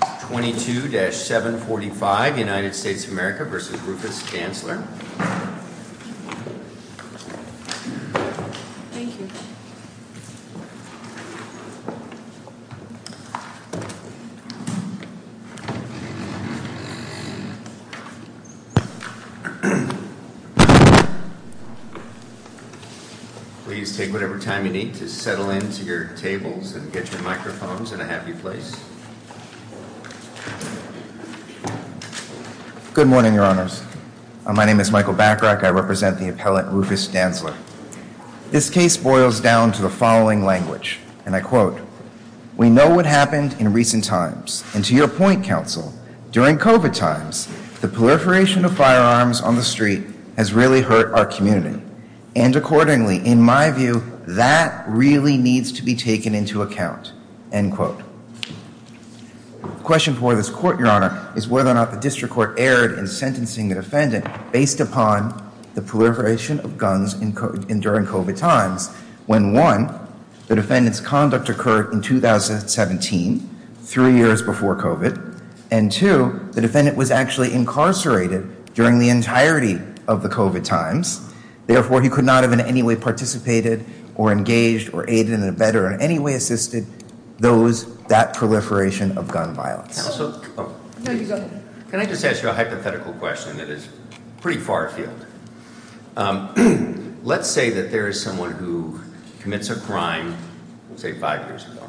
22-745 United States of America v. Rufus Dantzler Please take whatever time you need to settle into your tables and get your Good morning, your honors. My name is Michael Bacharach. I represent the appellate Rufus Dantzler. This case boils down to the following language, and I quote, we know what happened in recent times, and to your point, counsel, during COVID times, the proliferation of firearms on the street has really hurt our community. And accordingly, in my view, that really needs to be taken into account, end quote. Question for this court, your honor, is whether or not the district court erred in sentencing the defendant based upon the proliferation of guns during COVID times, when one, the defendant's conduct occurred in 2017, three years before COVID, and two, the defendant was actually incarcerated during the entirety of the COVID times. Therefore, he could not have in any way participated or engaged or aided in a better in any way assisted those that proliferation of gun violence. Can I just ask you a hypothetical question that is pretty far afield? Let's say that there is someone who commits a crime, say five years ago,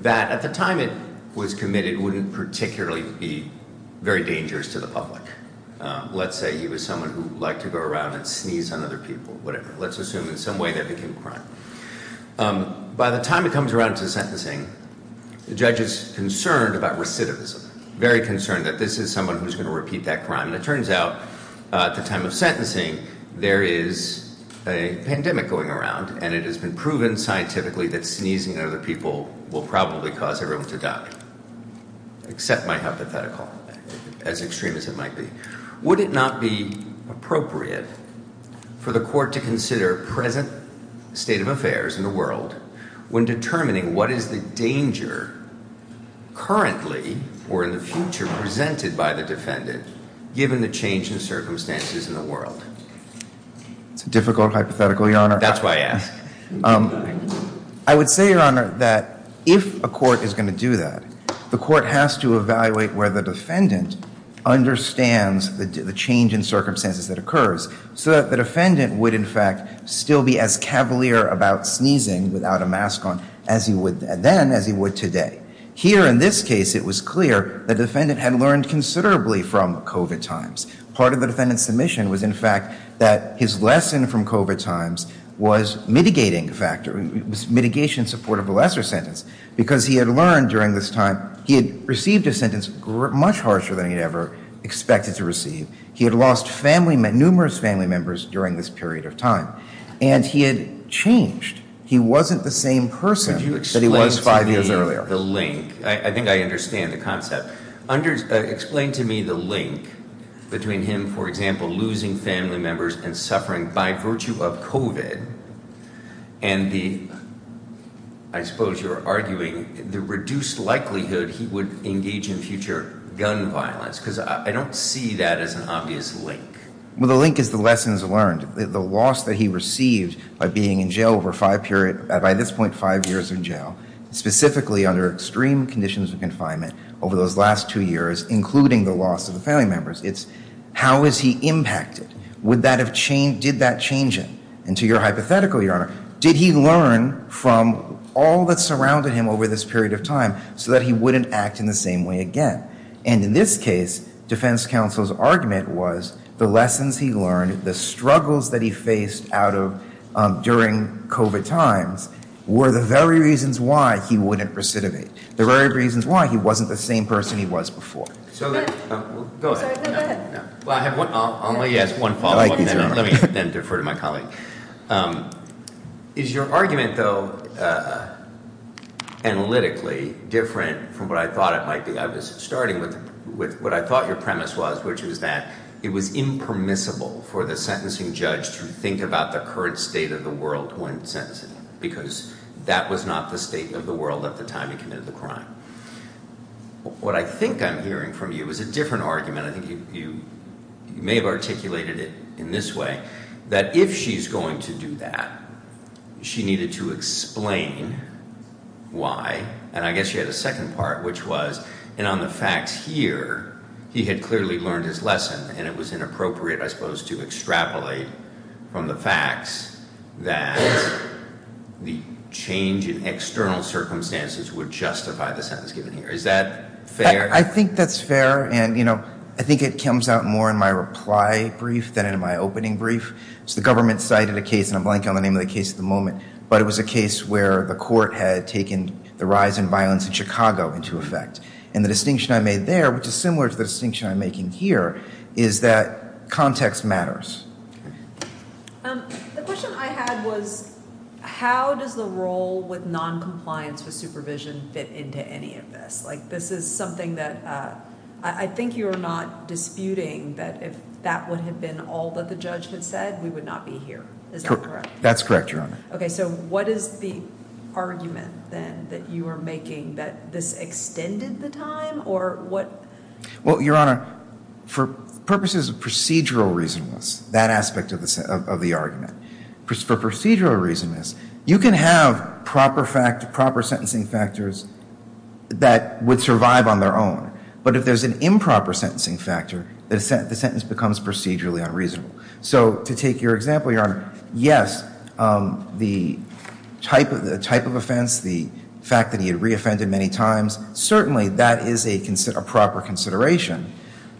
that at the time it was committed wouldn't particularly be very dangerous to the public. Let's say he was someone who liked to go around and sneeze on other people, whatever. Let's assume in some way that became a crime. By the time it comes around to sentencing, the judge is concerned about recidivism, very concerned that this is someone who's going to repeat that crime. And it turns out at the time of sentencing, there is a pandemic going around and it has been proven scientifically that sneezing on other people will probably cause everyone to die. Except my hypothetical, as extreme as it might be. Would it not be appropriate for the court to consider present state of affairs in the world when determining what is the danger currently or in the future presented by the defendant given the change in circumstances in the world? It's a difficult hypothetical, Your Honor. That's why I asked. I would say, Your Honor, that if a court is going to do that, the court has to evaluate whether the defendant understands the change in circumstances that occurs so that the defendant would, in fact, still be as cavalier about sneezing without a mask on as he would then, as he would today. Here in this case, it was clear the defendant had learned considerably from COVID times. Part of the defendant's submission was, in was mitigating factor, mitigation support of a lesser sentence. Because he had learned during this time, he had received a sentence much harsher than he'd ever expected to receive. He had lost numerous family members during this period of time. And he had changed. He wasn't the same person that he was five years earlier. Could you explain to me the link? I think I understand the concept. Explain to me the link between him, for example, losing family members and suffering by virtue of COVID and the, I suppose you're arguing, the reduced likelihood he would engage in future gun violence. Because I don't see that as an obvious link. Well, the link is the lessons learned. The loss that he received by being in jail over five periods, by this point, five years in jail, specifically under extreme conditions of confinement over those last two years, including the loss of And to your hypothetical, Your Honor, did he learn from all that surrounded him over this period of time so that he wouldn't act in the same way again? And in this case, defense counsel's argument was the lessons he learned, the struggles that he faced out of during COVID times, were the very reasons why he wouldn't recidivate. The very reasons why he wasn't the same person he was before. So, go ahead. Well, I have one, I'll let you ask one follow-up and then defer to my colleague. Is your argument, though, analytically different from what I thought it might be? I was starting with what I thought your premise was, which was that it was impermissible for the sentencing judge to think about the current state of the world when sentencing, because that was not the state of the world at the time he committed the crime. What I think I'm hearing from you is a different argument. I think you may have articulated it in this way, that if she's going to do that, she needed to explain why. And I guess you had a second part, which was, and on the facts here, he had clearly learned his lesson and it was inappropriate, I suppose, to extrapolate from the facts that the change in external circumstances would justify the sentence given here. Is that fair? I think that's fair and, you know, I think it comes out more in my reply brief than in my opening brief. So, the government cited a case, and I'm blanking on the name of the case at the moment, but it was a case where the court had taken the rise in violence in Chicago into effect. And the distinction I made there, which is similar to the distinction I'm making here, is that context matters. The question I had was, how does the role with non-compliance with supervision fit into any of this? Like, this is something that I think you are not disputing, that if that would have been all that the judge had said, we would not be here. Is that correct? That's correct, Your Honor. Okay, so what is the argument then that you are making, that this extended the time, or what? Well, Your Honor, for purposes of procedural reasonableness, that aspect of the argument, for procedural reasonableness, you can have proper fact, proper sentencing factors that would survive on their own. But if there's an improper sentencing factor, the sentence becomes procedurally unreasonable. So, to take your example, Your Honor, yes, the type of offense, the fact that he had re-offended many times, certainly that is a proper consideration.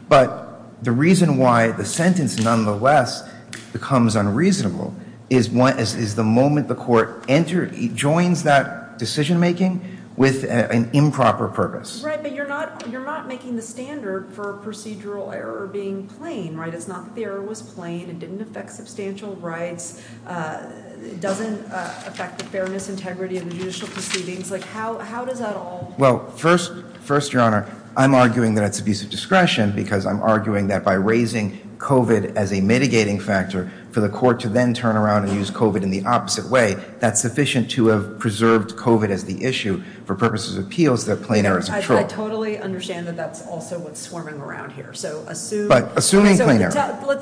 But the reason why the sentence nonetheless becomes unreasonable is the moment the court enters, joins that decision-making with an improper purpose. Right, but you're not making the standard for procedural error being plain, right? It's not that plain, it didn't affect substantial rights, it doesn't affect the fairness, integrity of the judicial proceedings. Like, how does that all work? Well, first, Your Honor, I'm arguing that it's abuse of discretion, because I'm arguing that by raising COVID as a mitigating factor for the court to then turn around and use COVID in the opposite way, that's sufficient to have preserved COVID as the issue for purposes of appeals, that plain error isn't true. I totally understand that that's also what's swarming around here. But assuming plain error.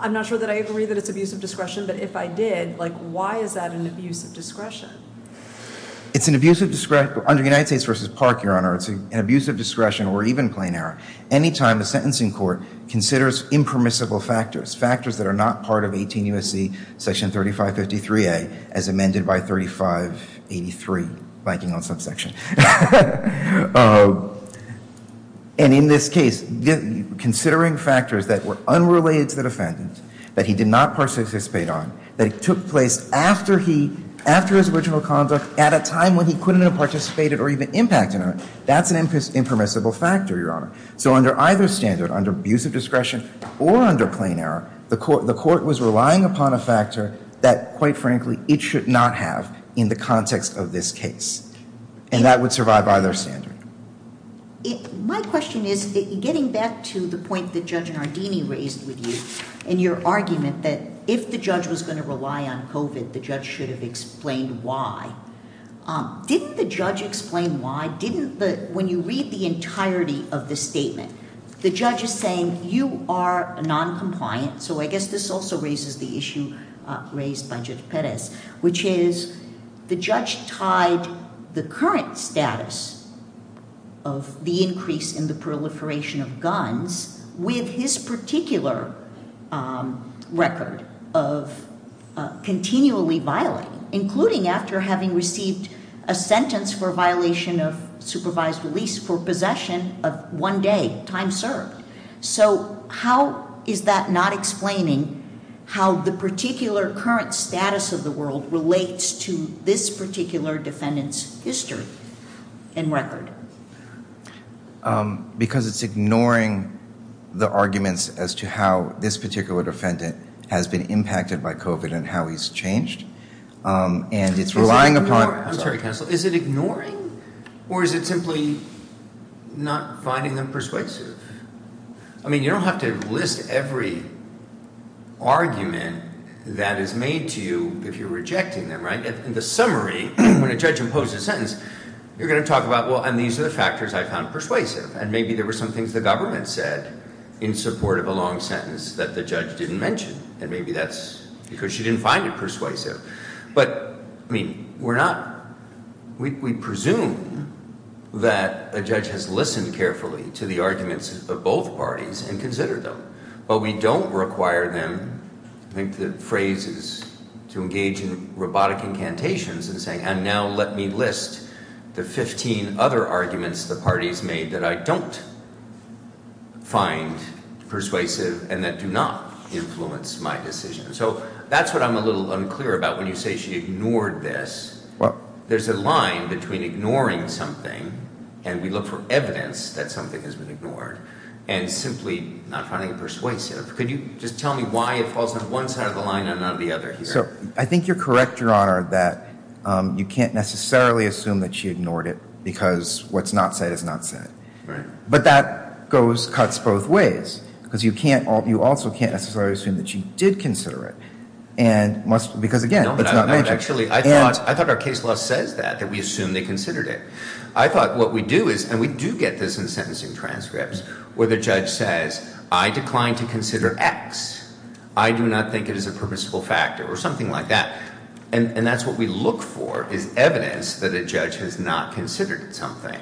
I'm not sure that I agree that it's abuse of discretion, but if I did, like, why is that an abuse of discretion? It's an abuse of discretion, under United States v. Park, Your Honor, it's an abuse of discretion or even plain error anytime the sentencing court considers impermissible factors, factors that are not part of 18 U.S.C. Section 3553A, as amended by 3583, blanking on subsection. And in this case, considering factors that were unrelated to the defendant, that he did not participate on, that took place after he, after his original conduct, at a time when he couldn't have participated or even impacted on it, that's an impermissible factor, Your Honor. So under either standard, under abuse of discretion or under plain error, the court was relying upon a factor that, quite frankly, it should not have in the context of this case. And that would survive either standard. My question is, getting back to the point that Judge Nardini raised with you in your argument that if the judge was going to rely on COVID, the judge should have explained why. Didn't the judge explain why? Didn't the, when you read the entirety of the statement, the judge is saying you are noncompliant. So I guess this also raises the issue raised by Judge Perez, which is the judge tied the current status of the increase in the proliferation of guns with his particular record of continually violating, including after having a sentence for violation of supervised release for possession of one day, time served. So how is that not explaining how the particular current status of the world relates to this particular defendant's history and record? Because it's ignoring the arguments as to how this particular defendant has been impacted by COVID and how he's changed. And it's relying upon. I'm sorry, counsel. Is it ignoring or is it simply not finding them persuasive? I mean, you don't have to list every argument that is made to you if you're rejecting them, right? In the summary, when a judge imposed a sentence, you're going to talk about, well, and these are the factors I found persuasive. And maybe there were some things the government said in support of a long sentence that the judge didn't mention. And maybe that's because she didn't find it persuasive. But I mean, we're not, we presume that a judge has listened carefully to the arguments of both parties and consider them. But we don't require them. I think the phrase is to engage in robotic incantations and saying, and now let me list the 15 other arguments the parties made that I don't find persuasive and that do not influence my decision. So that's what I'm a little unclear about when you say she ignored this. Well, there's a line between ignoring something and we look for evidence that something has been ignored and simply not finding it persuasive. Could you just tell me why it falls on one side of the line and not the other? So I think you're correct, your honor, that you can't necessarily assume that she ignored it because what's not said is not said. Right. But that goes, cuts both ways. Because you can't, you also can't necessarily assume that she did consider it. And because again, it's not magic. Actually, I thought our case law says that, that we assume they considered it. I thought what we do is, and we do get this in sentencing transcripts, where the judge says, I decline to consider X. I do not think it is a purposeful factor or something like that. And that's what we look for is evidence that a judge has not considered something.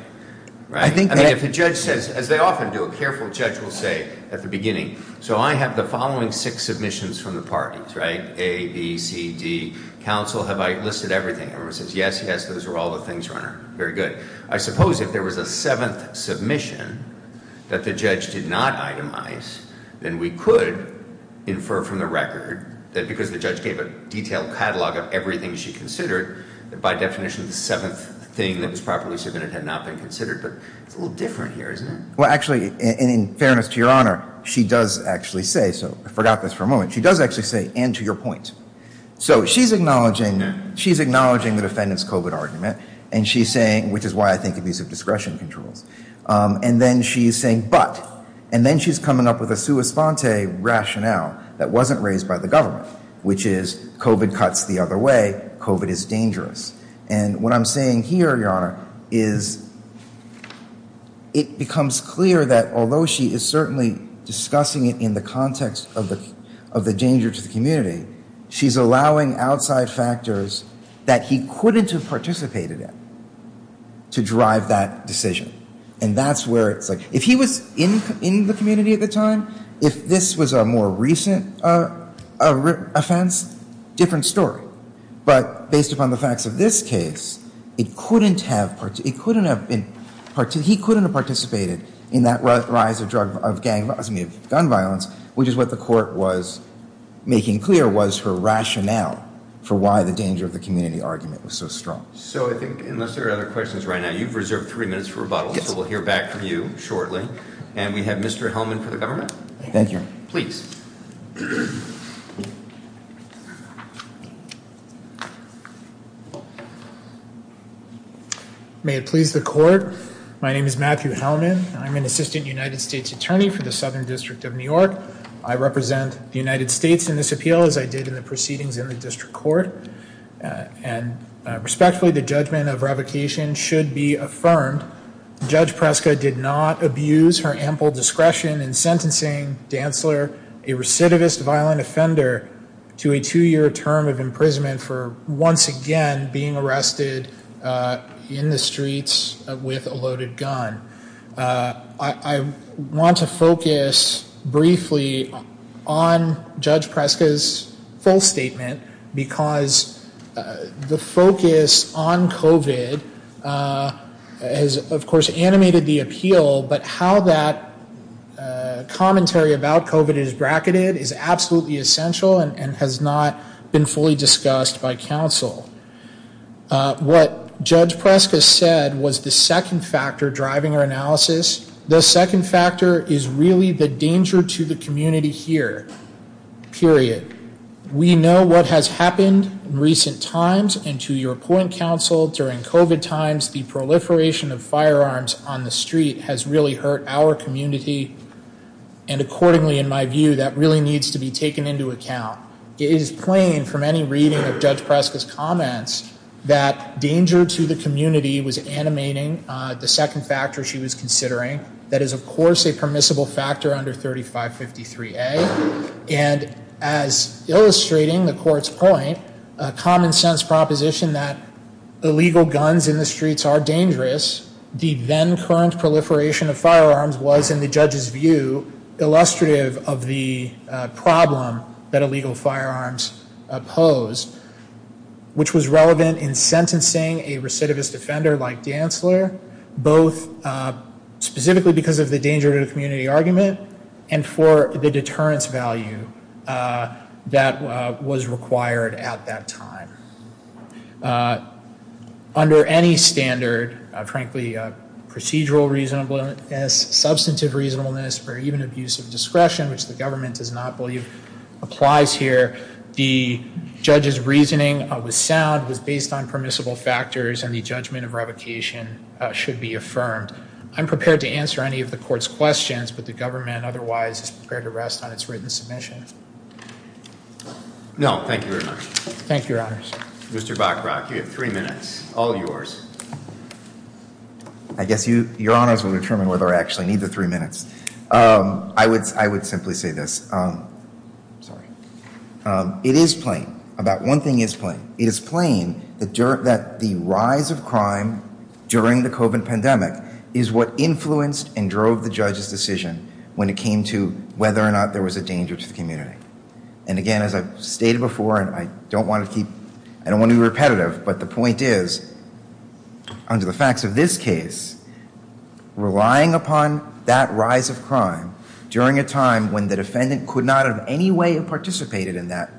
Right. I mean, if the judge says, as they often do, a careful judge will say at the beginning, so I have the following six submissions from the parties, right? A, B, C, D, counsel, have I listed everything? Everyone says, yes, yes, those are all the things, your honor. Very good. I suppose if there was a seventh submission that the judge did not itemize, then we could infer from the record that because the judge gave a detailed catalog of everything she considered, that by definition, the seventh thing that was properly submitted had not been considered. But it's a little different here, isn't it? Well, actually, in fairness to your honor, she does actually say, so I forgot this for a moment. She does actually say, and to your point. So she's acknowledging, she's acknowledging the defendant's COVID argument. And she's saying, which is why I think abuse of discretion controls. And then she's saying, but, and then she's coming up with a sua sponte rationale that wasn't raised by the government, which is COVID cuts the other way, COVID is dangerous. And what I'm saying here, your honor, is it becomes clear that although she is certainly discussing it in the context of the, of the danger to the community, she's allowing outside factors that he couldn't have participated in to drive that decision. And that's where it's like, if he was in, in the community at the time, if this was a more recent offense, different story. But based upon the facts of this case, it couldn't have, it couldn't have been, he couldn't have participated in that rise of drug, of gang, excuse me, of gun violence, which is what the court was making clear was her rationale for why the danger of the community argument was so strong. So I think unless there are other questions right now, you've reserved three minutes for rebuttal. So we'll hear back from you shortly. And we have for the government. Thank you. Please. May it please the court. My name is Matthew Hellman. I'm an assistant United States attorney for the Southern District of New York. I represent the United States in this appeal, as I did in the proceedings in the district court. And respectfully, the judgment of revocation should be affirmed. Judge Preska did not abuse her ample discretion in sentencing Dantzler, a recidivist violent offender, to a two-year term of imprisonment for once again being arrested in the streets with a loaded gun. I want to focus briefly on Judge Preska's full statement, because the focus on COVID has, of course, been on the streets. And I think that commentary about COVID is bracketed, is absolutely essential, and has not been fully discussed by counsel. What Judge Preska said was the second factor driving her analysis. The second factor is really the danger to the community here, period. We know what has happened in recent times, and to your point, counsel, during COVID times, the proliferation of firearms on the street has really hurt our community. And accordingly, in my view, that really needs to be taken into account. It is plain from any reading of Judge Preska's comments that danger to the community was animating the second factor she was considering, that is, of course, a permissible factor under 3553A. And as illustrating the court's point, a common-sense proposition that illegal guns in the streets are dangerous, the then-current proliferation of firearms was, in the judge's view, illustrative of the problem that illegal firearms pose, which was relevant in sentencing a recidivist offender like Dantzler, both specifically because of the danger to the community argument and for the deterrence value that was required at that time. Under any standard, frankly, procedural reasonableness, substantive reasonableness, or even abuse of discretion, which the government does not believe applies here, the judge's reasoning was sound, was based on permissible factors, and the judgment of revocation should be affirmed. I'm prepared to answer any of the court's questions, but the government otherwise is prepared to rest on its written submission. No, thank you very much. Thank you, Your Honors. Mr. Bachrach, you have three minutes, all yours. I guess your Honors will determine whether I actually need the three minutes. I would simply say this. It is plain, about one thing, that the defendant's decision to revoke a firearm during the COVID pandemic is what influenced and drove the judge's decision when it came to whether or not there was a danger to the community. And again, as I've stated before, and I don't want to be repetitive, but the point is, under the facts of this case, relying upon that rise of crime during a time when the defendant could not in any way have participated in that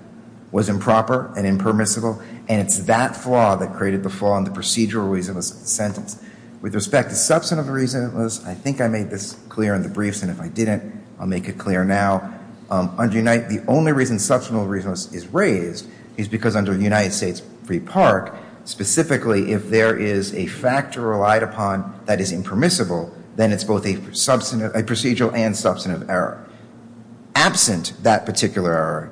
was improper and impermissible, and it's that flaw that created the flaw in the procedural reason of the sentence. With respect to substantive reasonableness, I think I made this clear in the briefs, and if I didn't, I'll make it clear now. The only reason substantive reasonableness is raised is because under United States Free Park, specifically, if there is a factor relied upon that is impermissible, then it's both a procedural and substantive error. Absent that particular error,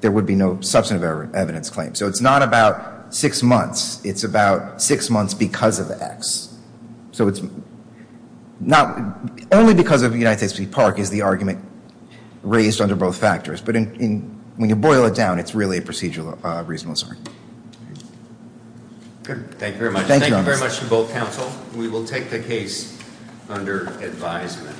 there would be no substantive evidence claim. So it's not about six months. It's about six months because of X. So it's not only because of United States Free Park is the argument raised under both factors, but when you boil it down, it's really a procedural reasonableness. Good. Thank you very much. Thank you very much to both counsel. We will take the case under advisement.